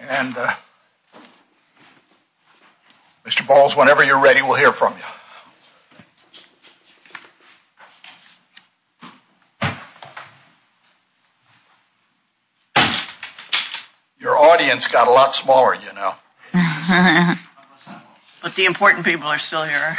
and Mr. Balls, whenever you're ready, we'll hear from you. Your audience got a lot smaller, you know. But the important people are still here.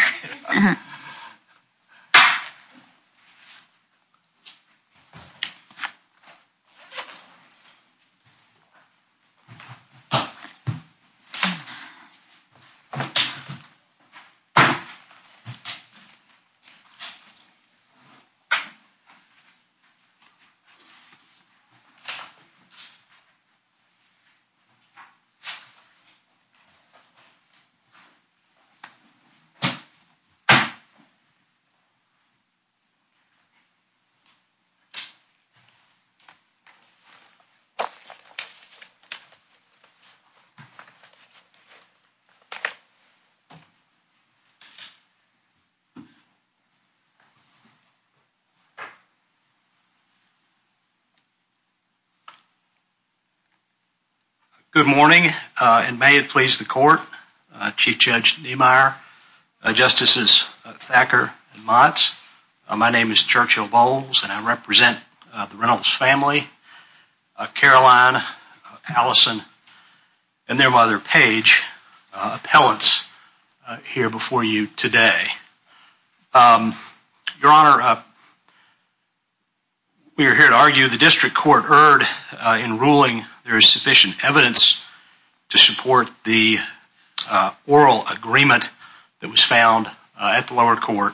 Chief Judge Niemeyer, Justices Thacker and Motz, my name is Churchill Balls and I represent the Reynolds family, Caroline, Allison, and their mother Paige, appellants here before you today. Your Honor, we are here to argue the District Court erred in ruling there is sufficient evidence to support the oral agreement that was found at the lower court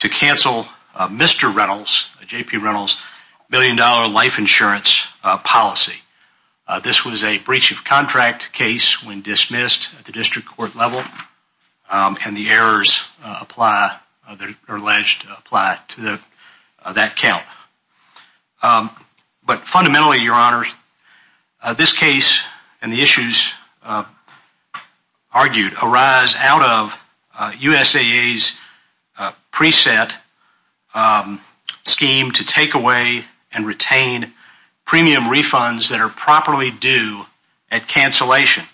to cancel Mr. Reynolds, J.P. Reynolds, million-dollar life insurance policy. This was a breach of contract case when dismissed at the District Court level and the errors are alleged to apply to that count. But fundamentally, Your Honor, this case and the issues argued arise out of USAA's preset scheme to take away and retain premium refunds that are properly due at cancellation,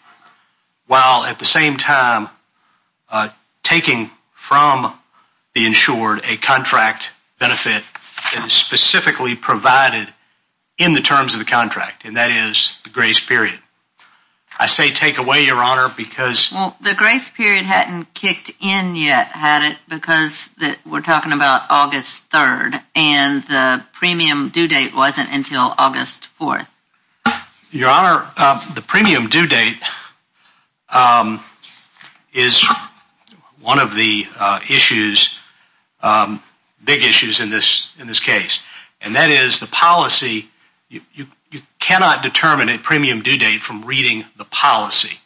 while at the same time taking from the insured a contract benefit that is specifically provided in the terms of the contract, and that is the grace period. I say take away, Your Honor, because... Well, the grace period hadn't kicked in yet, had it, because we're talking about August 3rd and the premium due date wasn't until August 4th. Your Honor, the premium due date is one of the issues, big issues in this case, and that is the policy. You cannot determine a premium due date from reading the policy.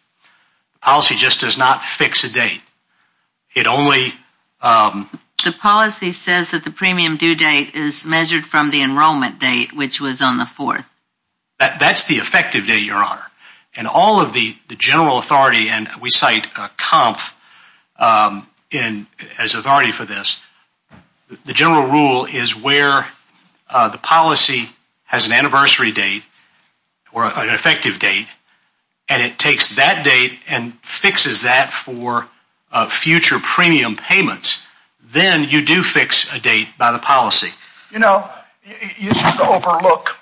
The policy just does not fix a date. The policy says that the premium due date is measured from the enrollment date, which was on the 4th. That's the effective date, Your Honor. And all of the general authority, and we cite COMP as authority for this, the general rule is where the policy has an anniversary date, or an effective date, and it takes that date and fixes that for future premium payments, then you do fix a date by the policy. You know, you should overlook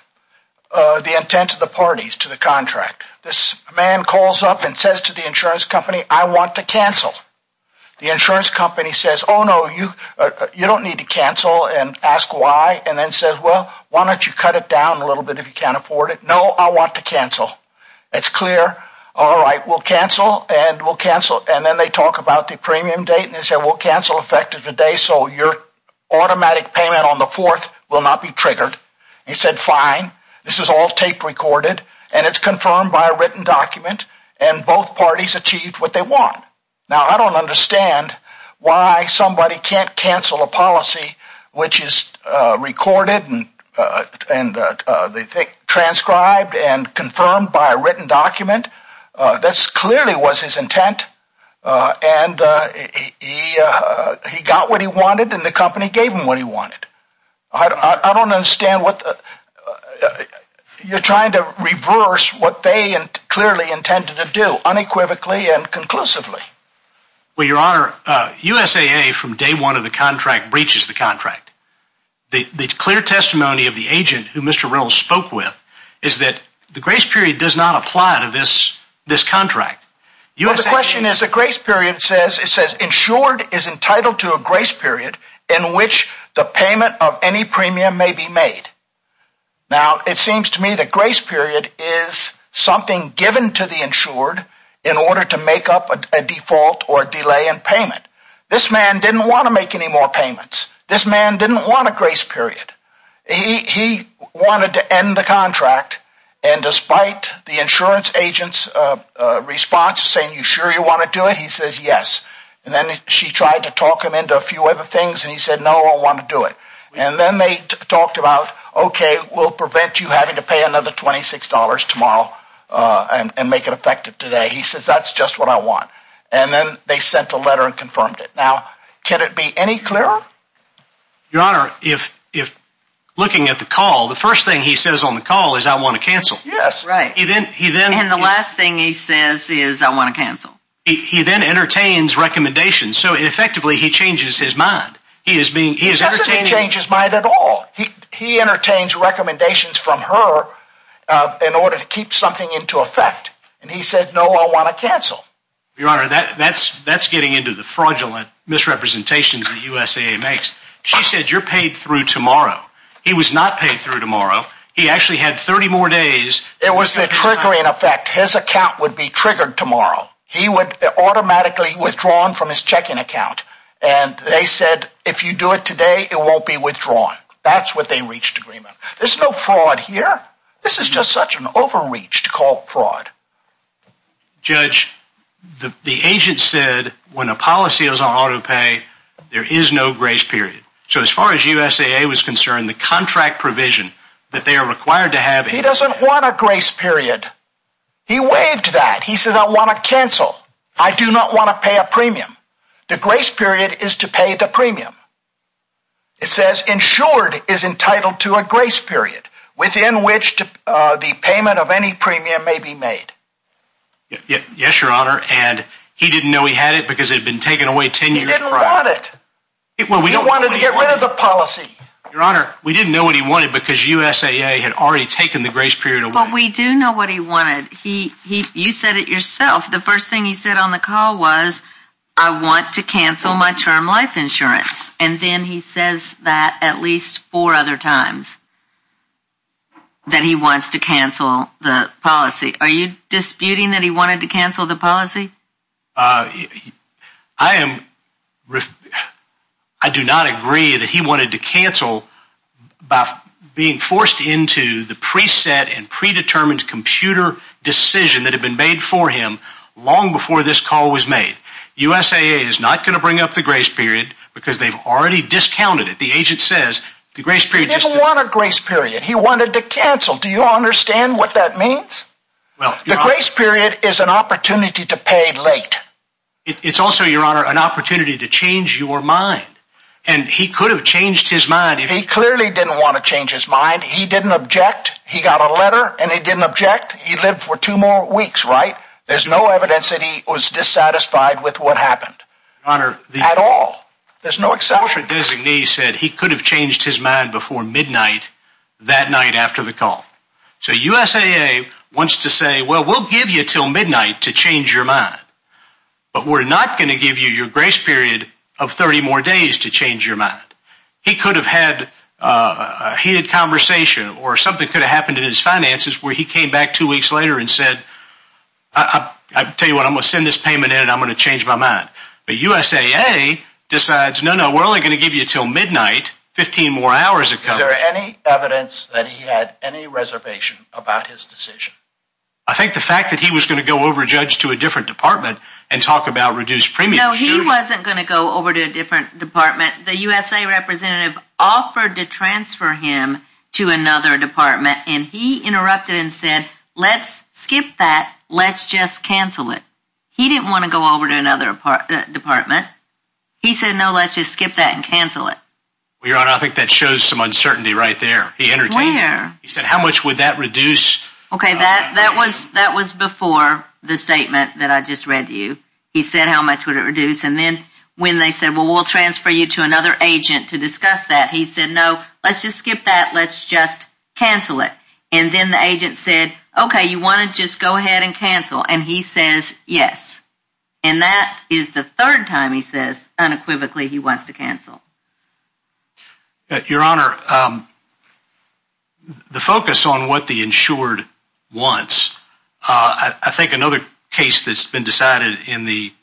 the intent of the parties to the contract. This man calls up and says to the insurance company, I want to cancel. The insurance company says, oh, no, you don't need to cancel and ask why, and then says, well, why don't you cut it down a little bit if you can't afford it. No, I want to cancel. It's clear. And then they talk about the premium date, and they say, well, cancel effective today so your automatic payment on the 4th will not be triggered. He said, fine. This is all tape recorded, and it's confirmed by a written document, and both parties achieved what they want. Now, I don't understand why somebody can't cancel a policy which is recorded and transcribed and confirmed by a written document. This clearly was his intent, and he got what he wanted, and the company gave him what he wanted. I don't understand what the – you're trying to reverse what they clearly intended to do unequivocally and conclusively. Well, Your Honor, USAA from day one of the contract breaches the contract. The clear testimony of the agent who Mr. Reynolds spoke with is that the grace period does not apply to this contract. Well, the question is the grace period says – it says insured is entitled to a grace period in which the payment of any premium may be made. Now, it seems to me that grace period is something given to the insured in order to make up a default or delay in payment. This man didn't want to make any more payments. This man didn't want a grace period. He wanted to end the contract, and despite the insurance agent's response saying, are you sure you want to do it, he says yes. And then she tried to talk him into a few other things, and he said, no, I don't want to do it. And then they talked about, okay, we'll prevent you having to pay another $26 tomorrow and make it effective today. He says, that's just what I want. And then they sent a letter and confirmed it. Now, can it be any clearer? Your Honor, if looking at the call, the first thing he says on the call is, I want to cancel. Yes, right. And the last thing he says is, I want to cancel. He then entertains recommendations. So, effectively, he changes his mind. He doesn't change his mind at all. He entertains recommendations from her in order to keep something into effect. And he said, no, I want to cancel. Your Honor, that's getting into the fraudulent misrepresentations that USAA makes. She said, you're paid through tomorrow. He was not paid through tomorrow. He actually had 30 more days. It was the triggering effect. His account would be triggered tomorrow. He would automatically withdraw from his checking account. And they said, if you do it today, it won't be withdrawn. That's what they reached agreement. There's no fraud here. This is just such an overreach to call fraud. Judge, the agent said, when a policy is on auto pay, there is no grace period. So, as far as USAA was concerned, the contract provision that they are required to have. He doesn't want a grace period. He waived that. He said, I want to cancel. I do not want to pay a premium. The grace period is to pay the premium. It says, insured is entitled to a grace period within which the payment of any premium may be made. Yes, Your Honor. And he didn't know he had it because it had been taken away 10 years prior. He didn't want it. He wanted to get rid of the policy. Your Honor, we didn't know what he wanted because USAA had already taken the grace period away. But we do know what he wanted. You said it yourself. The first thing he said on the call was, I want to cancel my term life insurance. And then he says that at least four other times that he wants to cancel the policy. Are you disputing that he wanted to cancel the policy? I do not agree that he wanted to cancel by being forced into the preset and predetermined computer decision that had been made for him long before this call was made. USAA is not going to bring up the grace period because they've already discounted it. The agent says, the grace period... He didn't want a grace period. He wanted to cancel. Do you understand what that means? The grace period is an opportunity to pay late. It's also, Your Honor, an opportunity to change your mind. And he could have changed his mind. He clearly didn't want to change his mind. He didn't object. He got a letter and he didn't object. He lived for two more weeks, right? There's no evidence that he was dissatisfied with what happened. Your Honor... At all. There's no exception. The portrait designee said he could have changed his mind before midnight that night after the call. So USAA wants to say, well, we'll give you until midnight to change your mind. But we're not going to give you your grace period of 30 more days to change your mind. He could have had a heated conversation or something could have happened in his finances where he came back two weeks later and said, I tell you what, I'm going to send this payment in and I'm going to change my mind. But USAA decides, no, no, we're only going to give you until midnight, 15 more hours ago. Is there any evidence that he had any reservation about his decision? I think the fact that he was going to go over judge to a different department and talk about reduced premium... No, he wasn't going to go over to a different department. The USAA representative offered to transfer him to another department and he interrupted and said, let's skip that. Let's just cancel it. He didn't want to go over to another department. He said, no, let's just skip that and cancel it. Your Honor, I think that shows some uncertainty right there. He entertained him. He said, how much would that reduce? Okay, that was before the statement that I just read to you. He said, how much would it reduce? And then when they said, well, we'll transfer you to another agent to discuss that. He said, no, let's just skip that. Let's just cancel it. And then the agent said, okay, you want to just go ahead and cancel? And he says, yes. And that is the third time he says unequivocally he wants to cancel. Your Honor, the focus on what the insured wants, I think another case that's been decided in the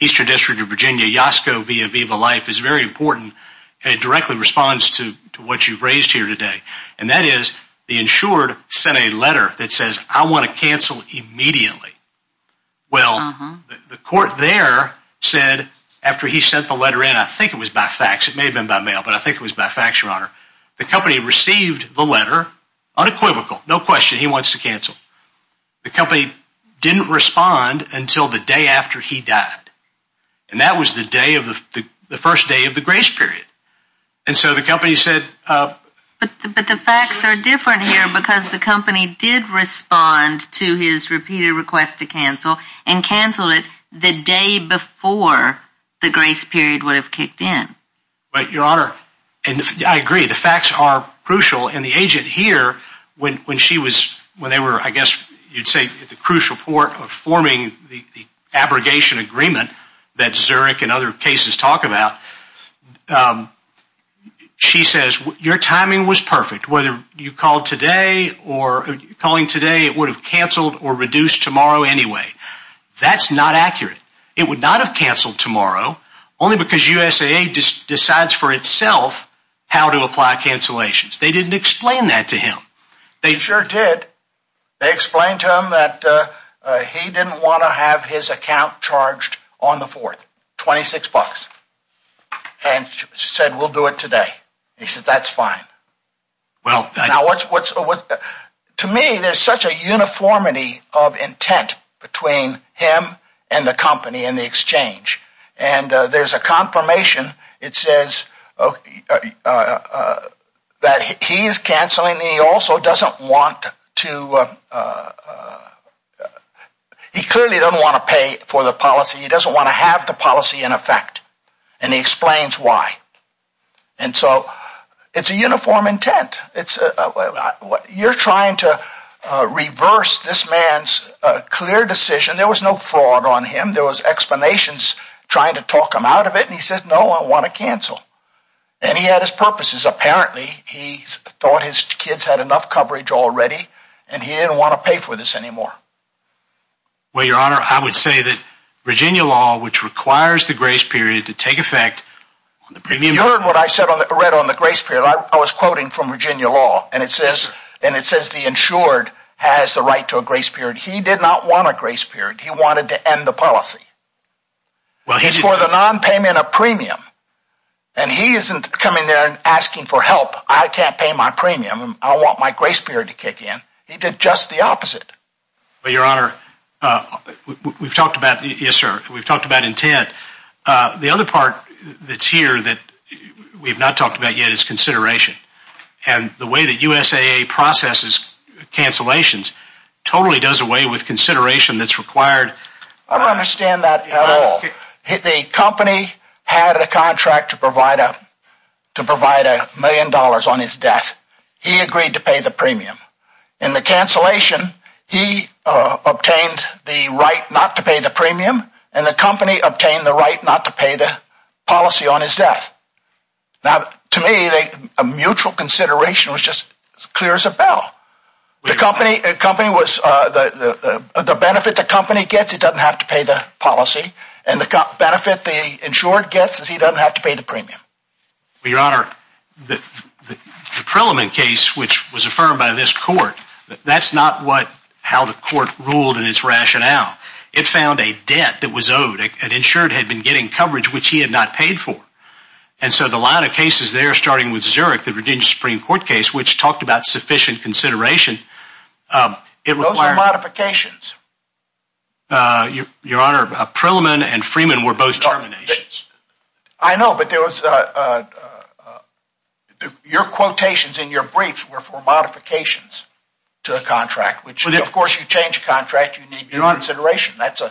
Eastern District of Virginia, Yasko v. Aviva Life, is very important and it directly responds to what you've raised here today. And that is the insured sent a letter that says, I want to cancel immediately. Well, the court there said, after he sent the letter in, I think it was by fax. It may have been by mail, but I think it was by fax, Your Honor. The company received the letter, unequivocal, no question he wants to cancel. The company didn't respond until the day after he died. And that was the day of the first day of the grace period. And so the company said. But the fax are different here because the company did respond to his repeated request to cancel and canceled it the day before the grace period would have kicked in. Right, Your Honor. And I agree, the fax are crucial. And the agent here, when she was, when they were, I guess you'd say the crucial part of forming the abrogation agreement that Zurich and other cases talk about, she says, your timing was perfect. Whether you called today or calling today, it would have canceled or reduced tomorrow anyway. That's not accurate. It would not have canceled tomorrow only because USA decides for itself how to apply cancellations. They didn't explain that to him. They sure did. They explained to him that he didn't want to have his account charged on the fourth. Twenty six bucks. And she said, we'll do it today. He said, that's fine. Well, now what's what's what to me, there's such a uniformity of intent between him and the company and the exchange. And there's a confirmation. It says that he's canceling. He also doesn't want to. He clearly doesn't want to pay for the policy. He doesn't want to have the policy in effect. And he explains why. And so it's a uniform intent. It's what you're trying to reverse. This man's clear decision. There was no fraud on him. There was explanations trying to talk him out of it. And he said, no, I want to cancel. And he had his purposes. Apparently, he thought his kids had enough coverage already. And he didn't want to pay for this anymore. Well, your honor, I would say that Virginia law, which requires the grace period to take effect. You heard what I said on the read on the grace period. I was quoting from Virginia law. And it says and it says the insured has the right to a grace period. He did not want a grace period. He wanted to end the policy. Well, he's for the nonpayment of premium. And he isn't coming there and asking for help. I can't pay my premium. I want my grace period to kick in. He did just the opposite. But your honor, we've talked about. Yes, sir. We've talked about intent. The other part that's here that we've not talked about yet is consideration. And the way that USA processes cancellations totally does away with consideration that's required. I don't understand that at all. The company had a contract to provide a million dollars on his death. He agreed to pay the premium. In the cancellation, he obtained the right not to pay the premium. And the company obtained the right not to pay the policy on his death. Now, to me, a mutual consideration was just as clear as a bell. The benefit the company gets, it doesn't have to pay the policy. And the benefit the insured gets is he doesn't have to pay the premium. Your honor, the Prelimine case, which was affirmed by this court, that's not how the court ruled in its rationale. It found a debt that was owed. An insured had been getting coverage which he had not paid for. And so the line of cases there, starting with Zurich, the Virginia Supreme Court case, which talked about sufficient consideration. Those are modifications. Your honor, Prelimine and Freeman were both terminations. I know, but your quotations in your briefs were for modifications to a contract. Of course, you change a contract, you need new consideration. Both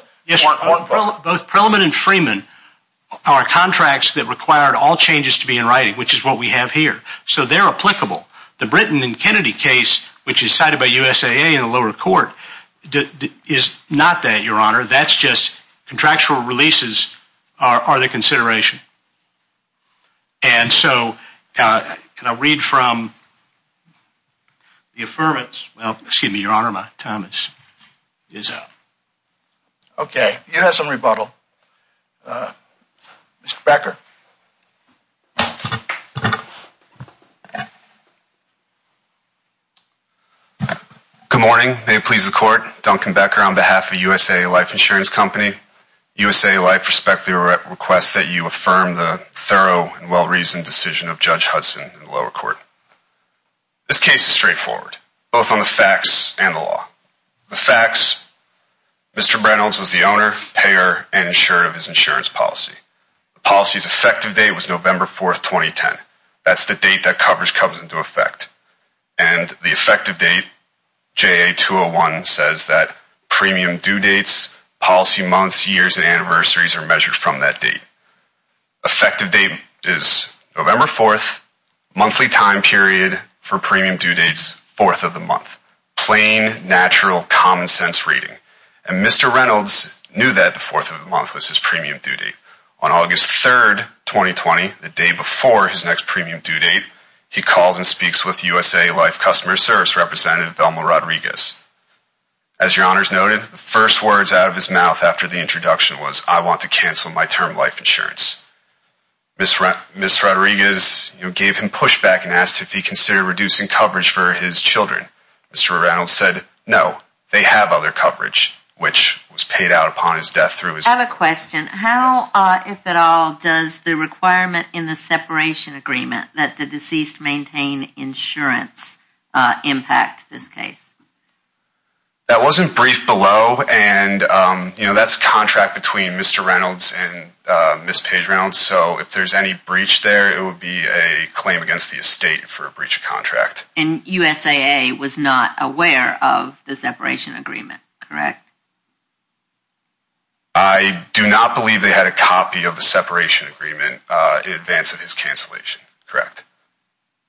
Prelimine and Freeman are contracts that required all changes to be in writing, which is what we have here. So they're applicable. The Britain and Kennedy case, which is cited by USAA in the lower court, is not that, your honor. That's just contractual releases are the consideration. And so, can I read from the affirmance? Excuse me, your honor, my time is up. Okay, you have some rebuttal. Mr. Becker. Good morning, may it please the court. Duncan Becker on behalf of USAA Life Insurance Company. USAA Life respectfully requests that you affirm the thorough and well-reasoned decision of Judge Hudson in the lower court. This case is straightforward, both on the facts and the law. The facts, Mr. Reynolds was the owner, payer, and insurer of his insurance policy. The policy's effective date was November 4th, 2010. That's the date that coverage comes into effect. And the effective date, JA-201, says that premium due dates, policy months, years, and anniversaries are measured from that date. Effective date is November 4th, monthly time period for premium due dates, 4th of the month. Plain, natural, common sense reading. And Mr. Reynolds knew that the 4th of the month was his premium due date. On August 3rd, 2020, the day before his next premium due date, he calls and speaks with USAA Life customer service representative Velma Rodriguez. As your honors noted, the first words out of his mouth after the introduction was, I want to cancel my term life insurance. Ms. Rodriguez gave him pushback and asked if he considered reducing coverage for his children. Mr. Reynolds said, no, they have other coverage, which was paid out upon his death through his... I have a question. How, if at all, does the requirement in the separation agreement that the deceased maintain insurance impact this case? That wasn't briefed below, and that's a contract between Mr. Reynolds and Ms. Paige Reynolds, so if there's any breach there, it would be a claim against the estate for a breach of contract. And USAA was not aware of the separation agreement, correct? I do not believe they had a copy of the separation agreement in advance of his cancellation, correct?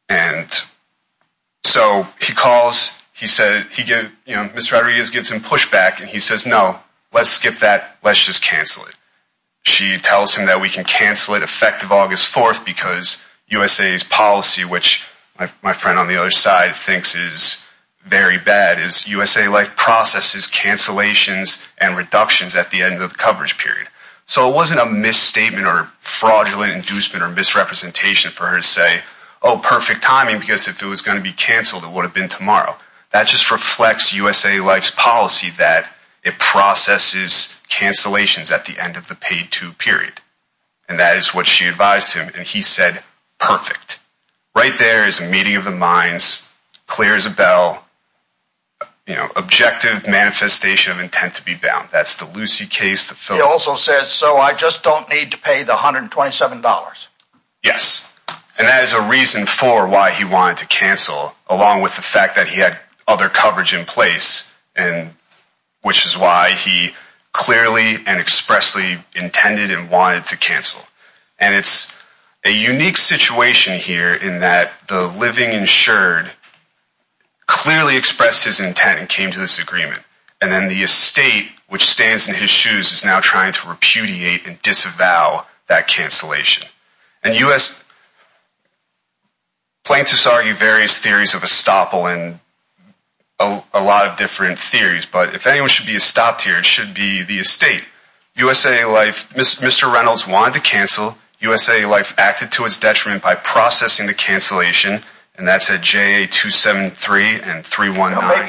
And so he calls, he said, he gave, you know, Ms. Rodriguez gives him pushback and he says, no, let's skip that. Let's just cancel it. She tells him that we can cancel it effective August 4th because USA's policy, which my friend on the other side thinks is very bad, is USA Life processes cancellations and reductions at the end of the coverage period. So it wasn't a misstatement or fraudulent inducement or misrepresentation for her to say, oh, perfect timing, because if it was going to be canceled, it would have been tomorrow. That just reflects USA Life's policy that it processes cancellations at the end of the paid-to period. And that is what she advised him. And he said, perfect. Right there is a meeting of the minds, clears a bell, you know, objective manifestation of intent to be bound. That's the Lucy case. He also says, so I just don't need to pay the $127. Yes. And that is a reason for why he wanted to cancel, along with the fact that he had other coverage in place, which is why he clearly and expressly intended and wanted to cancel. And it's a unique situation here in that the living insured clearly expressed his intent and came to this agreement. And then the estate, which stands in his shoes, is now trying to repudiate and disavow that cancellation. And plaintiffs argue various theories of estoppel and a lot of different theories. But if anyone should be stopped here, it should be the estate. USA Life, Mr. Reynolds wanted to cancel. USA Life acted to its detriment by processing the cancellation. And that's at JA273 and 319.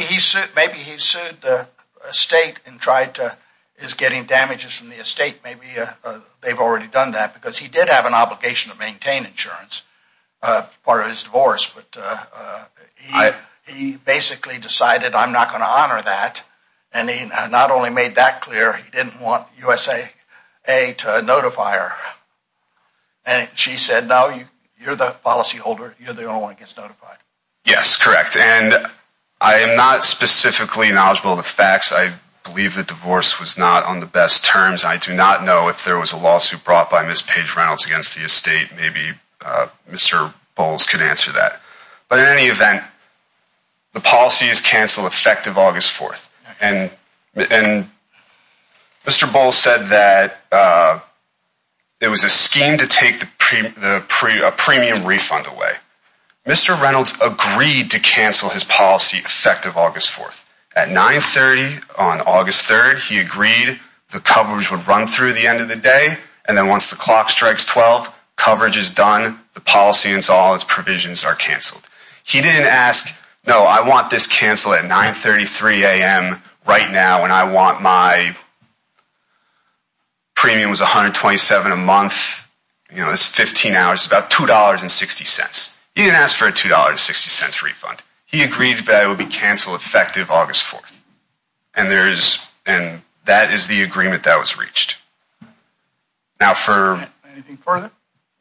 Maybe he sued the estate and tried to get him damages from the estate. Maybe they've already done that because he did have an obligation to maintain insurance as part of his divorce. But he basically decided, I'm not going to honor that. And he not only made that clear, he didn't want USA to notify her. And she said, no, you're the policyholder. You're the only one who gets notified. Yes, correct. And I am not specifically knowledgeable of the facts. I believe the divorce was not on the best terms. I do not know if there was a lawsuit brought by Ms. Paige Reynolds against the estate. Maybe Mr. Bowles could answer that. But in any event, the policy is canceled effective August 4th. And Mr. Bowles said that it was a scheme to take a premium refund away. Mr. Reynolds agreed to cancel his policy effective August 4th. At 930 on August 3rd, he agreed the coverage would run through the end of the day. And then once the clock strikes 12, coverage is done. The policy and all its provisions are canceled. He didn't ask, no, I want this canceled at 933 a.m. right now. And I want my premiums 127 a month. You know, it's 15 hours. It's about $2.60. He didn't ask for a $2.60 refund. He agreed that it would be canceled effective August 4th. And that is the agreement that was reached. Anything further?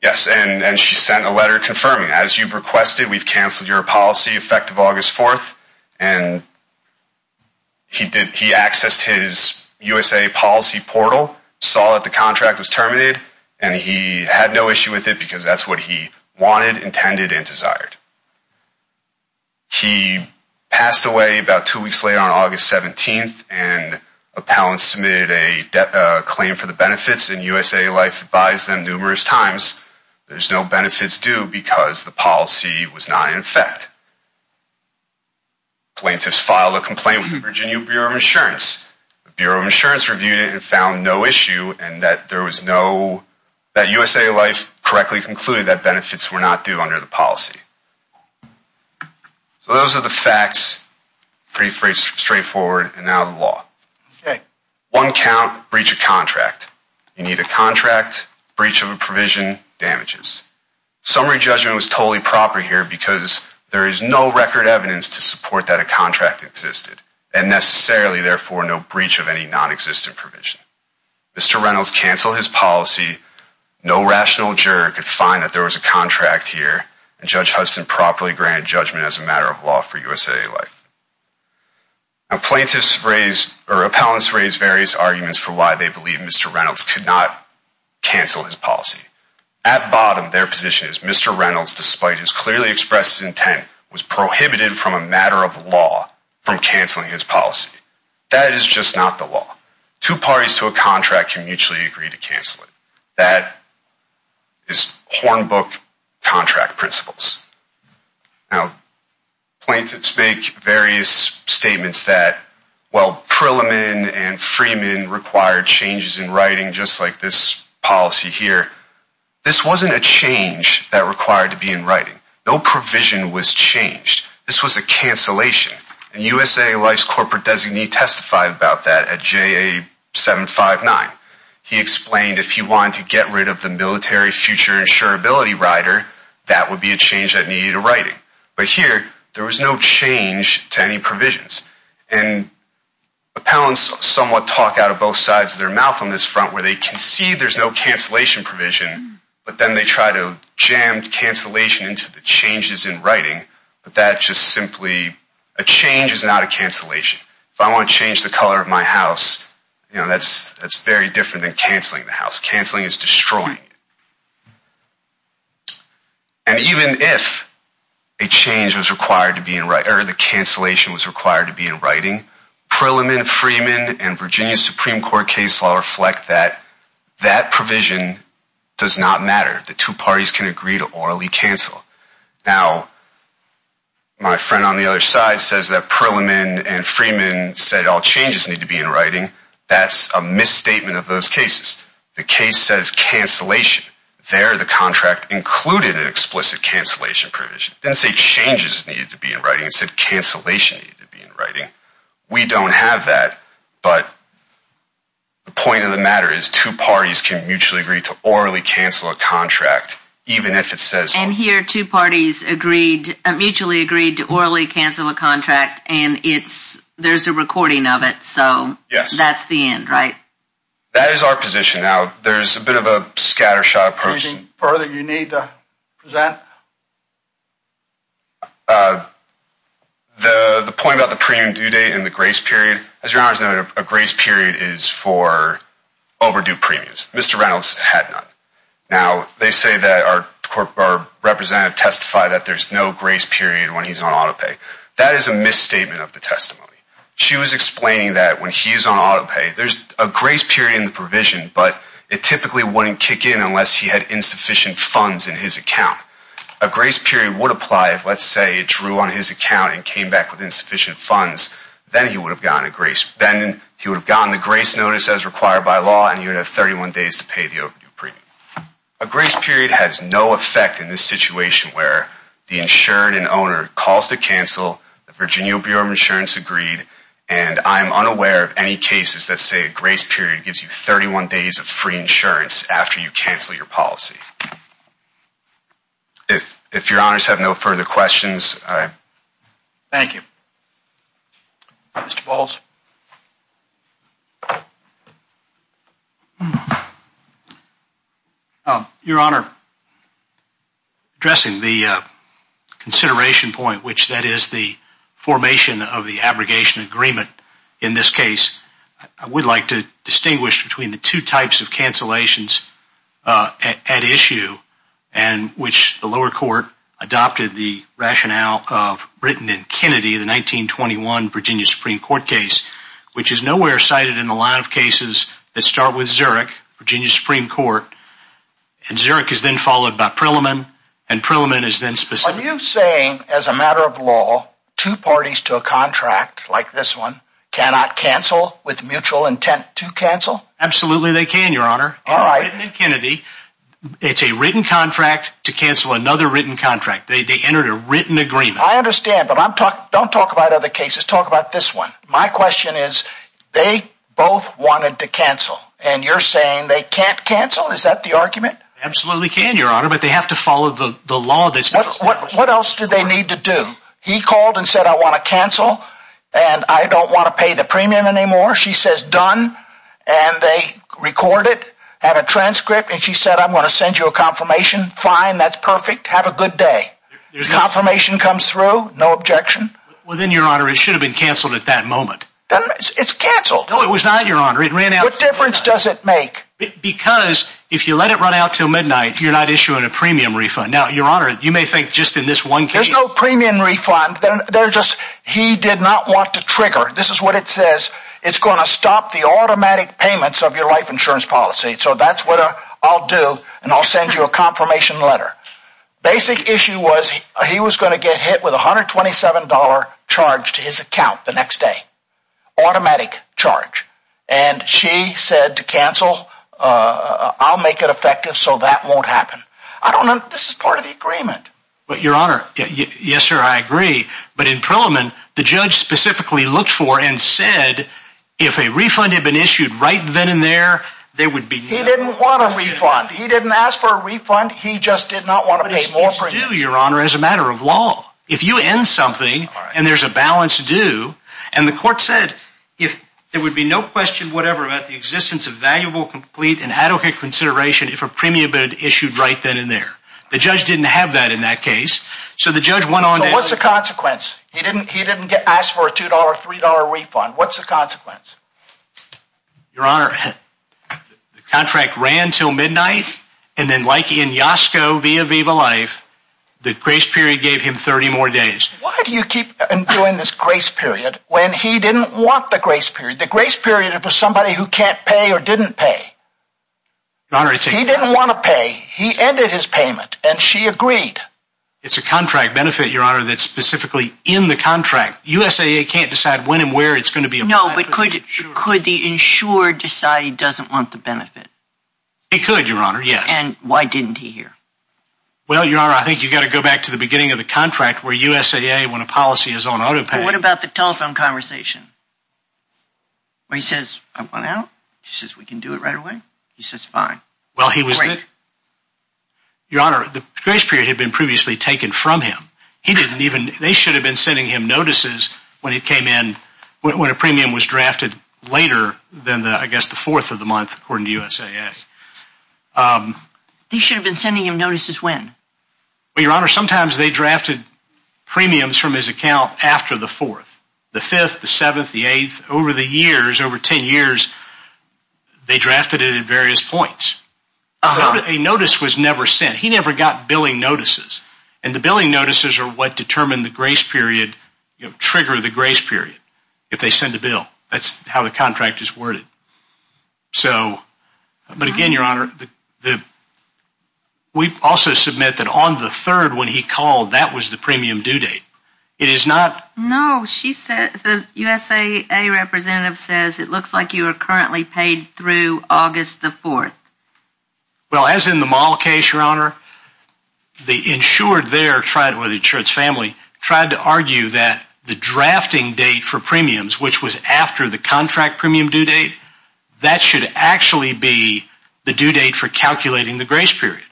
Yes, and she sent a letter confirming, as you've requested, we've canceled your policy effective August 4th. And he accessed his USA policy portal, saw that the contract was terminated, and he had no issue with it because that's what he wanted, intended, and desired. He passed away about two weeks later on August 17th, and appellants submitted a claim for the benefits, and USA Life advised them numerous times there's no benefits due because the policy was not in effect. Plaintiffs filed a complaint with the Virginia Bureau of Insurance. The Bureau of Insurance reviewed it and found no issue in that there was no, that USA Life correctly concluded that benefits were not due under the policy. So those are the facts, pretty straightforward, and now the law. One count, breach of contract. You need a contract, breach of a provision, damages. Summary judgment was totally proper here because there is no record evidence to support that a contract existed and necessarily, therefore, no breach of any nonexistent provision. Mr. Reynolds canceled his policy. No rational juror could find that there was a contract here, and Judge Hudson properly granted judgment as a matter of law for USA Life. Now, plaintiffs raised, or appellants raised various arguments for why they believe Mr. Reynolds could not cancel his policy. At bottom, their position is Mr. Reynolds, despite his clearly expressed intent, was prohibited from a matter of law from canceling his policy. That is just not the law. Two parties to a contract can mutually agree to cancel it. That is Hornbook contract principles. Now, plaintiffs make various statements that, well, Prilliman and Freeman required changes in writing just like this policy here. This wasn't a change that required to be in writing. No provision was changed. This was a cancellation, and USA Life's corporate designee testified about that at JA 759. He explained if he wanted to get rid of the military future insurability rider, that would be a change that needed a writing. But here, there was no change to any provisions, and appellants somewhat talk out of both sides of their mouth on this front where they concede there's no cancellation provision, but then they try to jam cancellation into the changes in writing, but that just simply, a change is not a cancellation. If I want to change the color of my house, you know, that's very different than canceling the house. Canceling is destroying it. And even if a change was required to be in writing, or the cancellation was required to be in writing, Prilliman, Freeman, and Virginia Supreme Court case law reflect that that provision does not matter. The two parties can agree to orally cancel. Now, my friend on the other side says that Prilliman and Freeman said all changes need to be in writing. That's a misstatement of those cases. The case says cancellation. There, the contract included an explicit cancellation provision. It didn't say changes needed to be in writing. It said cancellation needed to be in writing. We don't have that, but the point of the matter is two parties can mutually agree to orally cancel a contract, even if it says all changes need to be in writing. And here, two parties agreed, mutually agreed to orally cancel a contract, and there's a recording of it. So that's the end, right? That is our position. Now, there's a bit of a scattershot approach. Anything further you need to present? The point about the premium due date and the grace period. As your Honor has noted, a grace period is for overdue premiums. Mr. Reynolds had none. Now, they say that our representative testified that there's no grace period when he's on auto pay. That is a misstatement of the testimony. She was explaining that when he's on auto pay, there's a grace period in the provision, but it typically wouldn't kick in unless he had insufficient funds in his account. A grace period would apply if, let's say, it drew on his account and came back with insufficient funds. Then he would have gotten a grace. Notice as required by law, and you would have 31 days to pay the overdue premium. A grace period has no effect in this situation where the insured and owner calls to cancel, the Virginia Bureau of Insurance agreed, and I'm unaware of any cases that say a grace period gives you 31 days of free insurance after you cancel your policy. If your Honors have no further questions, I'm... Thank you. Mr. Faulds? Your Honor, addressing the consideration point, which that is the formation of the abrogation agreement in this case, I would like to distinguish between the two types of cancellations at issue, and which the lower court adopted the rationale of Britain and Kennedy, the 1921 Virginia Supreme Court case, which is nowhere cited in a lot of cases that start with Zurich, Virginia Supreme Court, and Zurich is then followed by Prilliman, and Prilliman is then specifically... Are you saying, as a matter of law, two parties to a contract like this one cannot cancel with mutual intent to cancel? All right. Britain and Kennedy, it's a written contract to cancel another written contract. They entered a written agreement. I understand, but don't talk about other cases. Talk about this one. My question is, they both wanted to cancel, and you're saying they can't cancel? Is that the argument? They absolutely can, Your Honor, but they have to follow the law of this case. What else do they need to do? He called and said, I want to cancel, and I don't want to pay the premium anymore. She says, done, and they record it, have a transcript, and she said, I'm going to send you a confirmation. Fine, that's perfect. Have a good day. Confirmation comes through, no objection. Well, then, Your Honor, it should have been canceled at that moment. It's canceled. No, it was not, Your Honor. What difference does it make? Because if you let it run out till midnight, you're not issuing a premium refund. Now, Your Honor, you may think just in this one case... There's no premium refund. He did not want to trigger. This is what it says. It's going to stop the automatic payments of your life insurance policy. So that's what I'll do, and I'll send you a confirmation letter. Basic issue was, he was going to get hit with $127 charged to his account the next day. Automatic charge. And she said to cancel, I'll make it effective so that won't happen. I don't know if this is part of the agreement. But, Your Honor, yes, sir, I agree. But in Parliament, the judge specifically looked for and said, if a refund had been issued right then and there, there would be no... He didn't want a refund. He didn't ask for a refund. He just did not want to pay more premiums. But it's due, Your Honor, as a matter of law. If you end something, and there's a balance due, and the court said there would be no question whatever about the existence of valuable, complete, and adequate consideration if a premium had been issued right then and there. The judge didn't have that in that case. So the judge went on to... So what's the consequence? He didn't ask for a $2 or $3 refund. What's the consequence? Your Honor, the contract ran until midnight, and then like in Yasko via Viva Life, the grace period gave him 30 more days. Why do you keep doing this grace period when he didn't want the grace period? The grace period is for somebody who can't pay or didn't pay. Your Honor, it's a... He didn't want to pay. He ended his payment, and she agreed. It's a contract benefit, Your Honor, that's specifically in the contract. USAA can't decide when and where it's going to be applied to the insurer. No, but could the insurer decide he doesn't want the benefit? He could, Your Honor, yes. And why didn't he here? Well, Your Honor, I think you've got to go back to the beginning of the contract where USAA, when a policy is on autopay... What about the telephone conversation? Where he says, I want out. She says, we can do it right away. He says, fine. Well, he was... Your Honor, the grace period had been previously taken from him. He didn't even... They should have been sending him notices when it came in, when a premium was drafted later than, I guess, the fourth of the month, according to USAA. They should have been sending him notices when? Well, Your Honor, sometimes they drafted premiums from his account after the fourth. The fifth, the seventh, the eighth. Over the years, over ten years, they drafted it at various points. A notice was never sent. He never got billing notices. And the billing notices are what determine the grace period, trigger the grace period, if they send a bill. That's how the contract is worded. But again, Your Honor, we also submit that on the third when he called, that was the premium due date. It is not... No, she said, the USAA representative says, it looks like you are currently paid through August the fourth. Well, as in the Mahl case, Your Honor, the insured there tried, or the insured's family, tried to argue that the drafting date for premiums, which was after the contract premium due date, that should actually be the due date for calculating the grace period.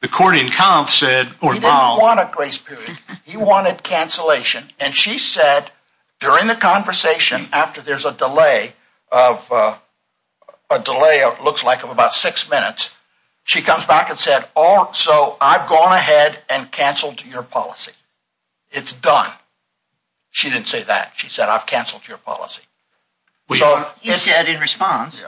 The court in comp said... He didn't want a grace period. He wanted cancellation. And she said, during the conversation, after there's a delay of, a delay looks like of about six minutes, she comes back and said, so I've gone ahead and canceled your policy. It's done. She didn't say that. She said, I've canceled your policy. He said in response.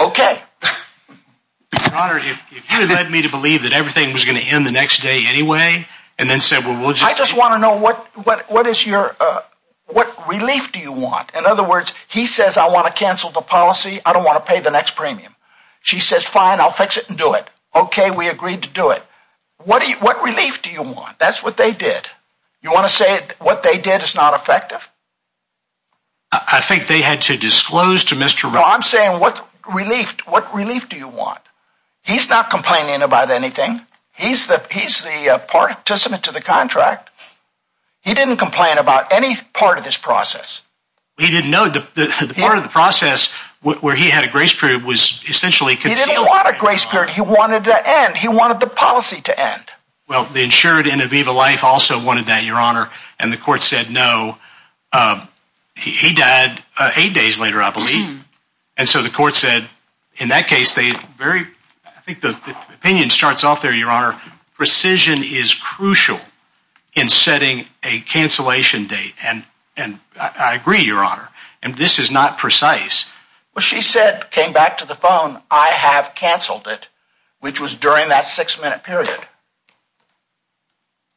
Okay. Your Honor, if you had led me to believe that everything was going to end the next day anyway, and then said, well, we'll just... I just want to know what, what, what is your, uh, what relief do you want? In other words, he says, I want to cancel the policy. I don't want to pay the next premium. She says, fine, I'll fix it and do it. Okay. We agreed to do it. What do you, what relief do you want? That's what they did. You want to say what they did is not effective. I think they had to disclose to Mr. Well, I'm saying what relief, what relief do you want? He's not complaining about anything. He's the, he's the, uh, participant to the contract. He didn't complain about any part of this process. He didn't know the part of the process where he had a grace period was essentially concealed. He didn't want a grace period. He wanted to end. He wanted the policy to end. Well, the insured and Aviva Life also wanted that, Your Honor. And the court said, no. Um, he, he died eight days later, I believe. And so the court said in that case, they very, I think the opinion starts off there, Your Honor. Precision is crucial in setting a cancellation date. And, and I agree, Your Honor. And this is not precise. Well, she said, came back to the phone. I have canceled it, which was during that six minute period.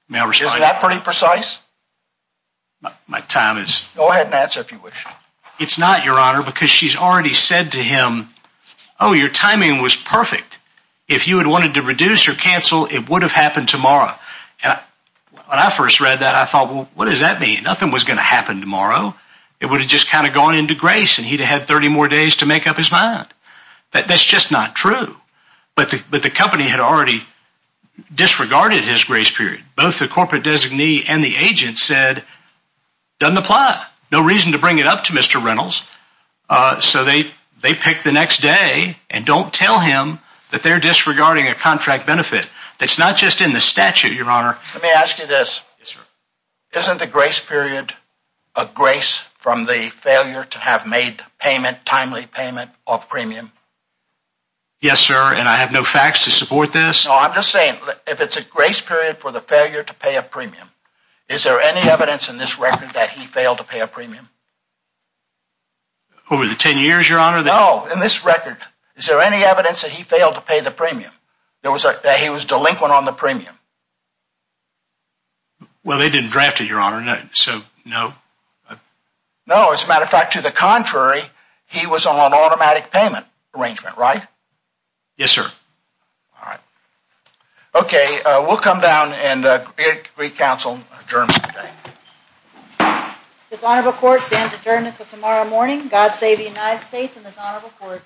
Is that pretty precise? My time is. Go ahead and answer if you wish. It's not, Your Honor, because she's already said to him, oh, your timing was perfect. If you had wanted to reduce or cancel, it would have happened tomorrow. And when I first read that, I thought, well, what does that mean? Nothing was going to happen tomorrow. It would have just kind of gone into grace and he'd have had 30 more days to make up his mind. That's just not true. But the company had already disregarded his grace period. Both the corporate designee and the agent said, doesn't apply. No reason to bring it up to Mr. Reynolds. So they, they picked the next day and don't tell him that they're disregarding a contract benefit. That's not just in the statute, Your Honor. Let me ask you this. Isn't the grace period a grace from the failure to have made payment, timely payment of premium? Yes, sir. And I have no facts to support this. No, I'm just saying, if it's a grace period for the failure to pay a premium, is there any evidence in this record that he failed to pay a premium? Over the 10 years, Your Honor? No. In this record, is there any evidence that he failed to pay the premium? That he was delinquent on the premium? Well, they didn't draft it, Your Honor. So, no. No, as a matter of fact, to the contrary, he was on automatic payment arrangement, right? Yes, sir. All right. Okay. We'll come down and agree counsel adjournment today. This honorable court stands adjourned until tomorrow morning. God save the United States and this honorable court.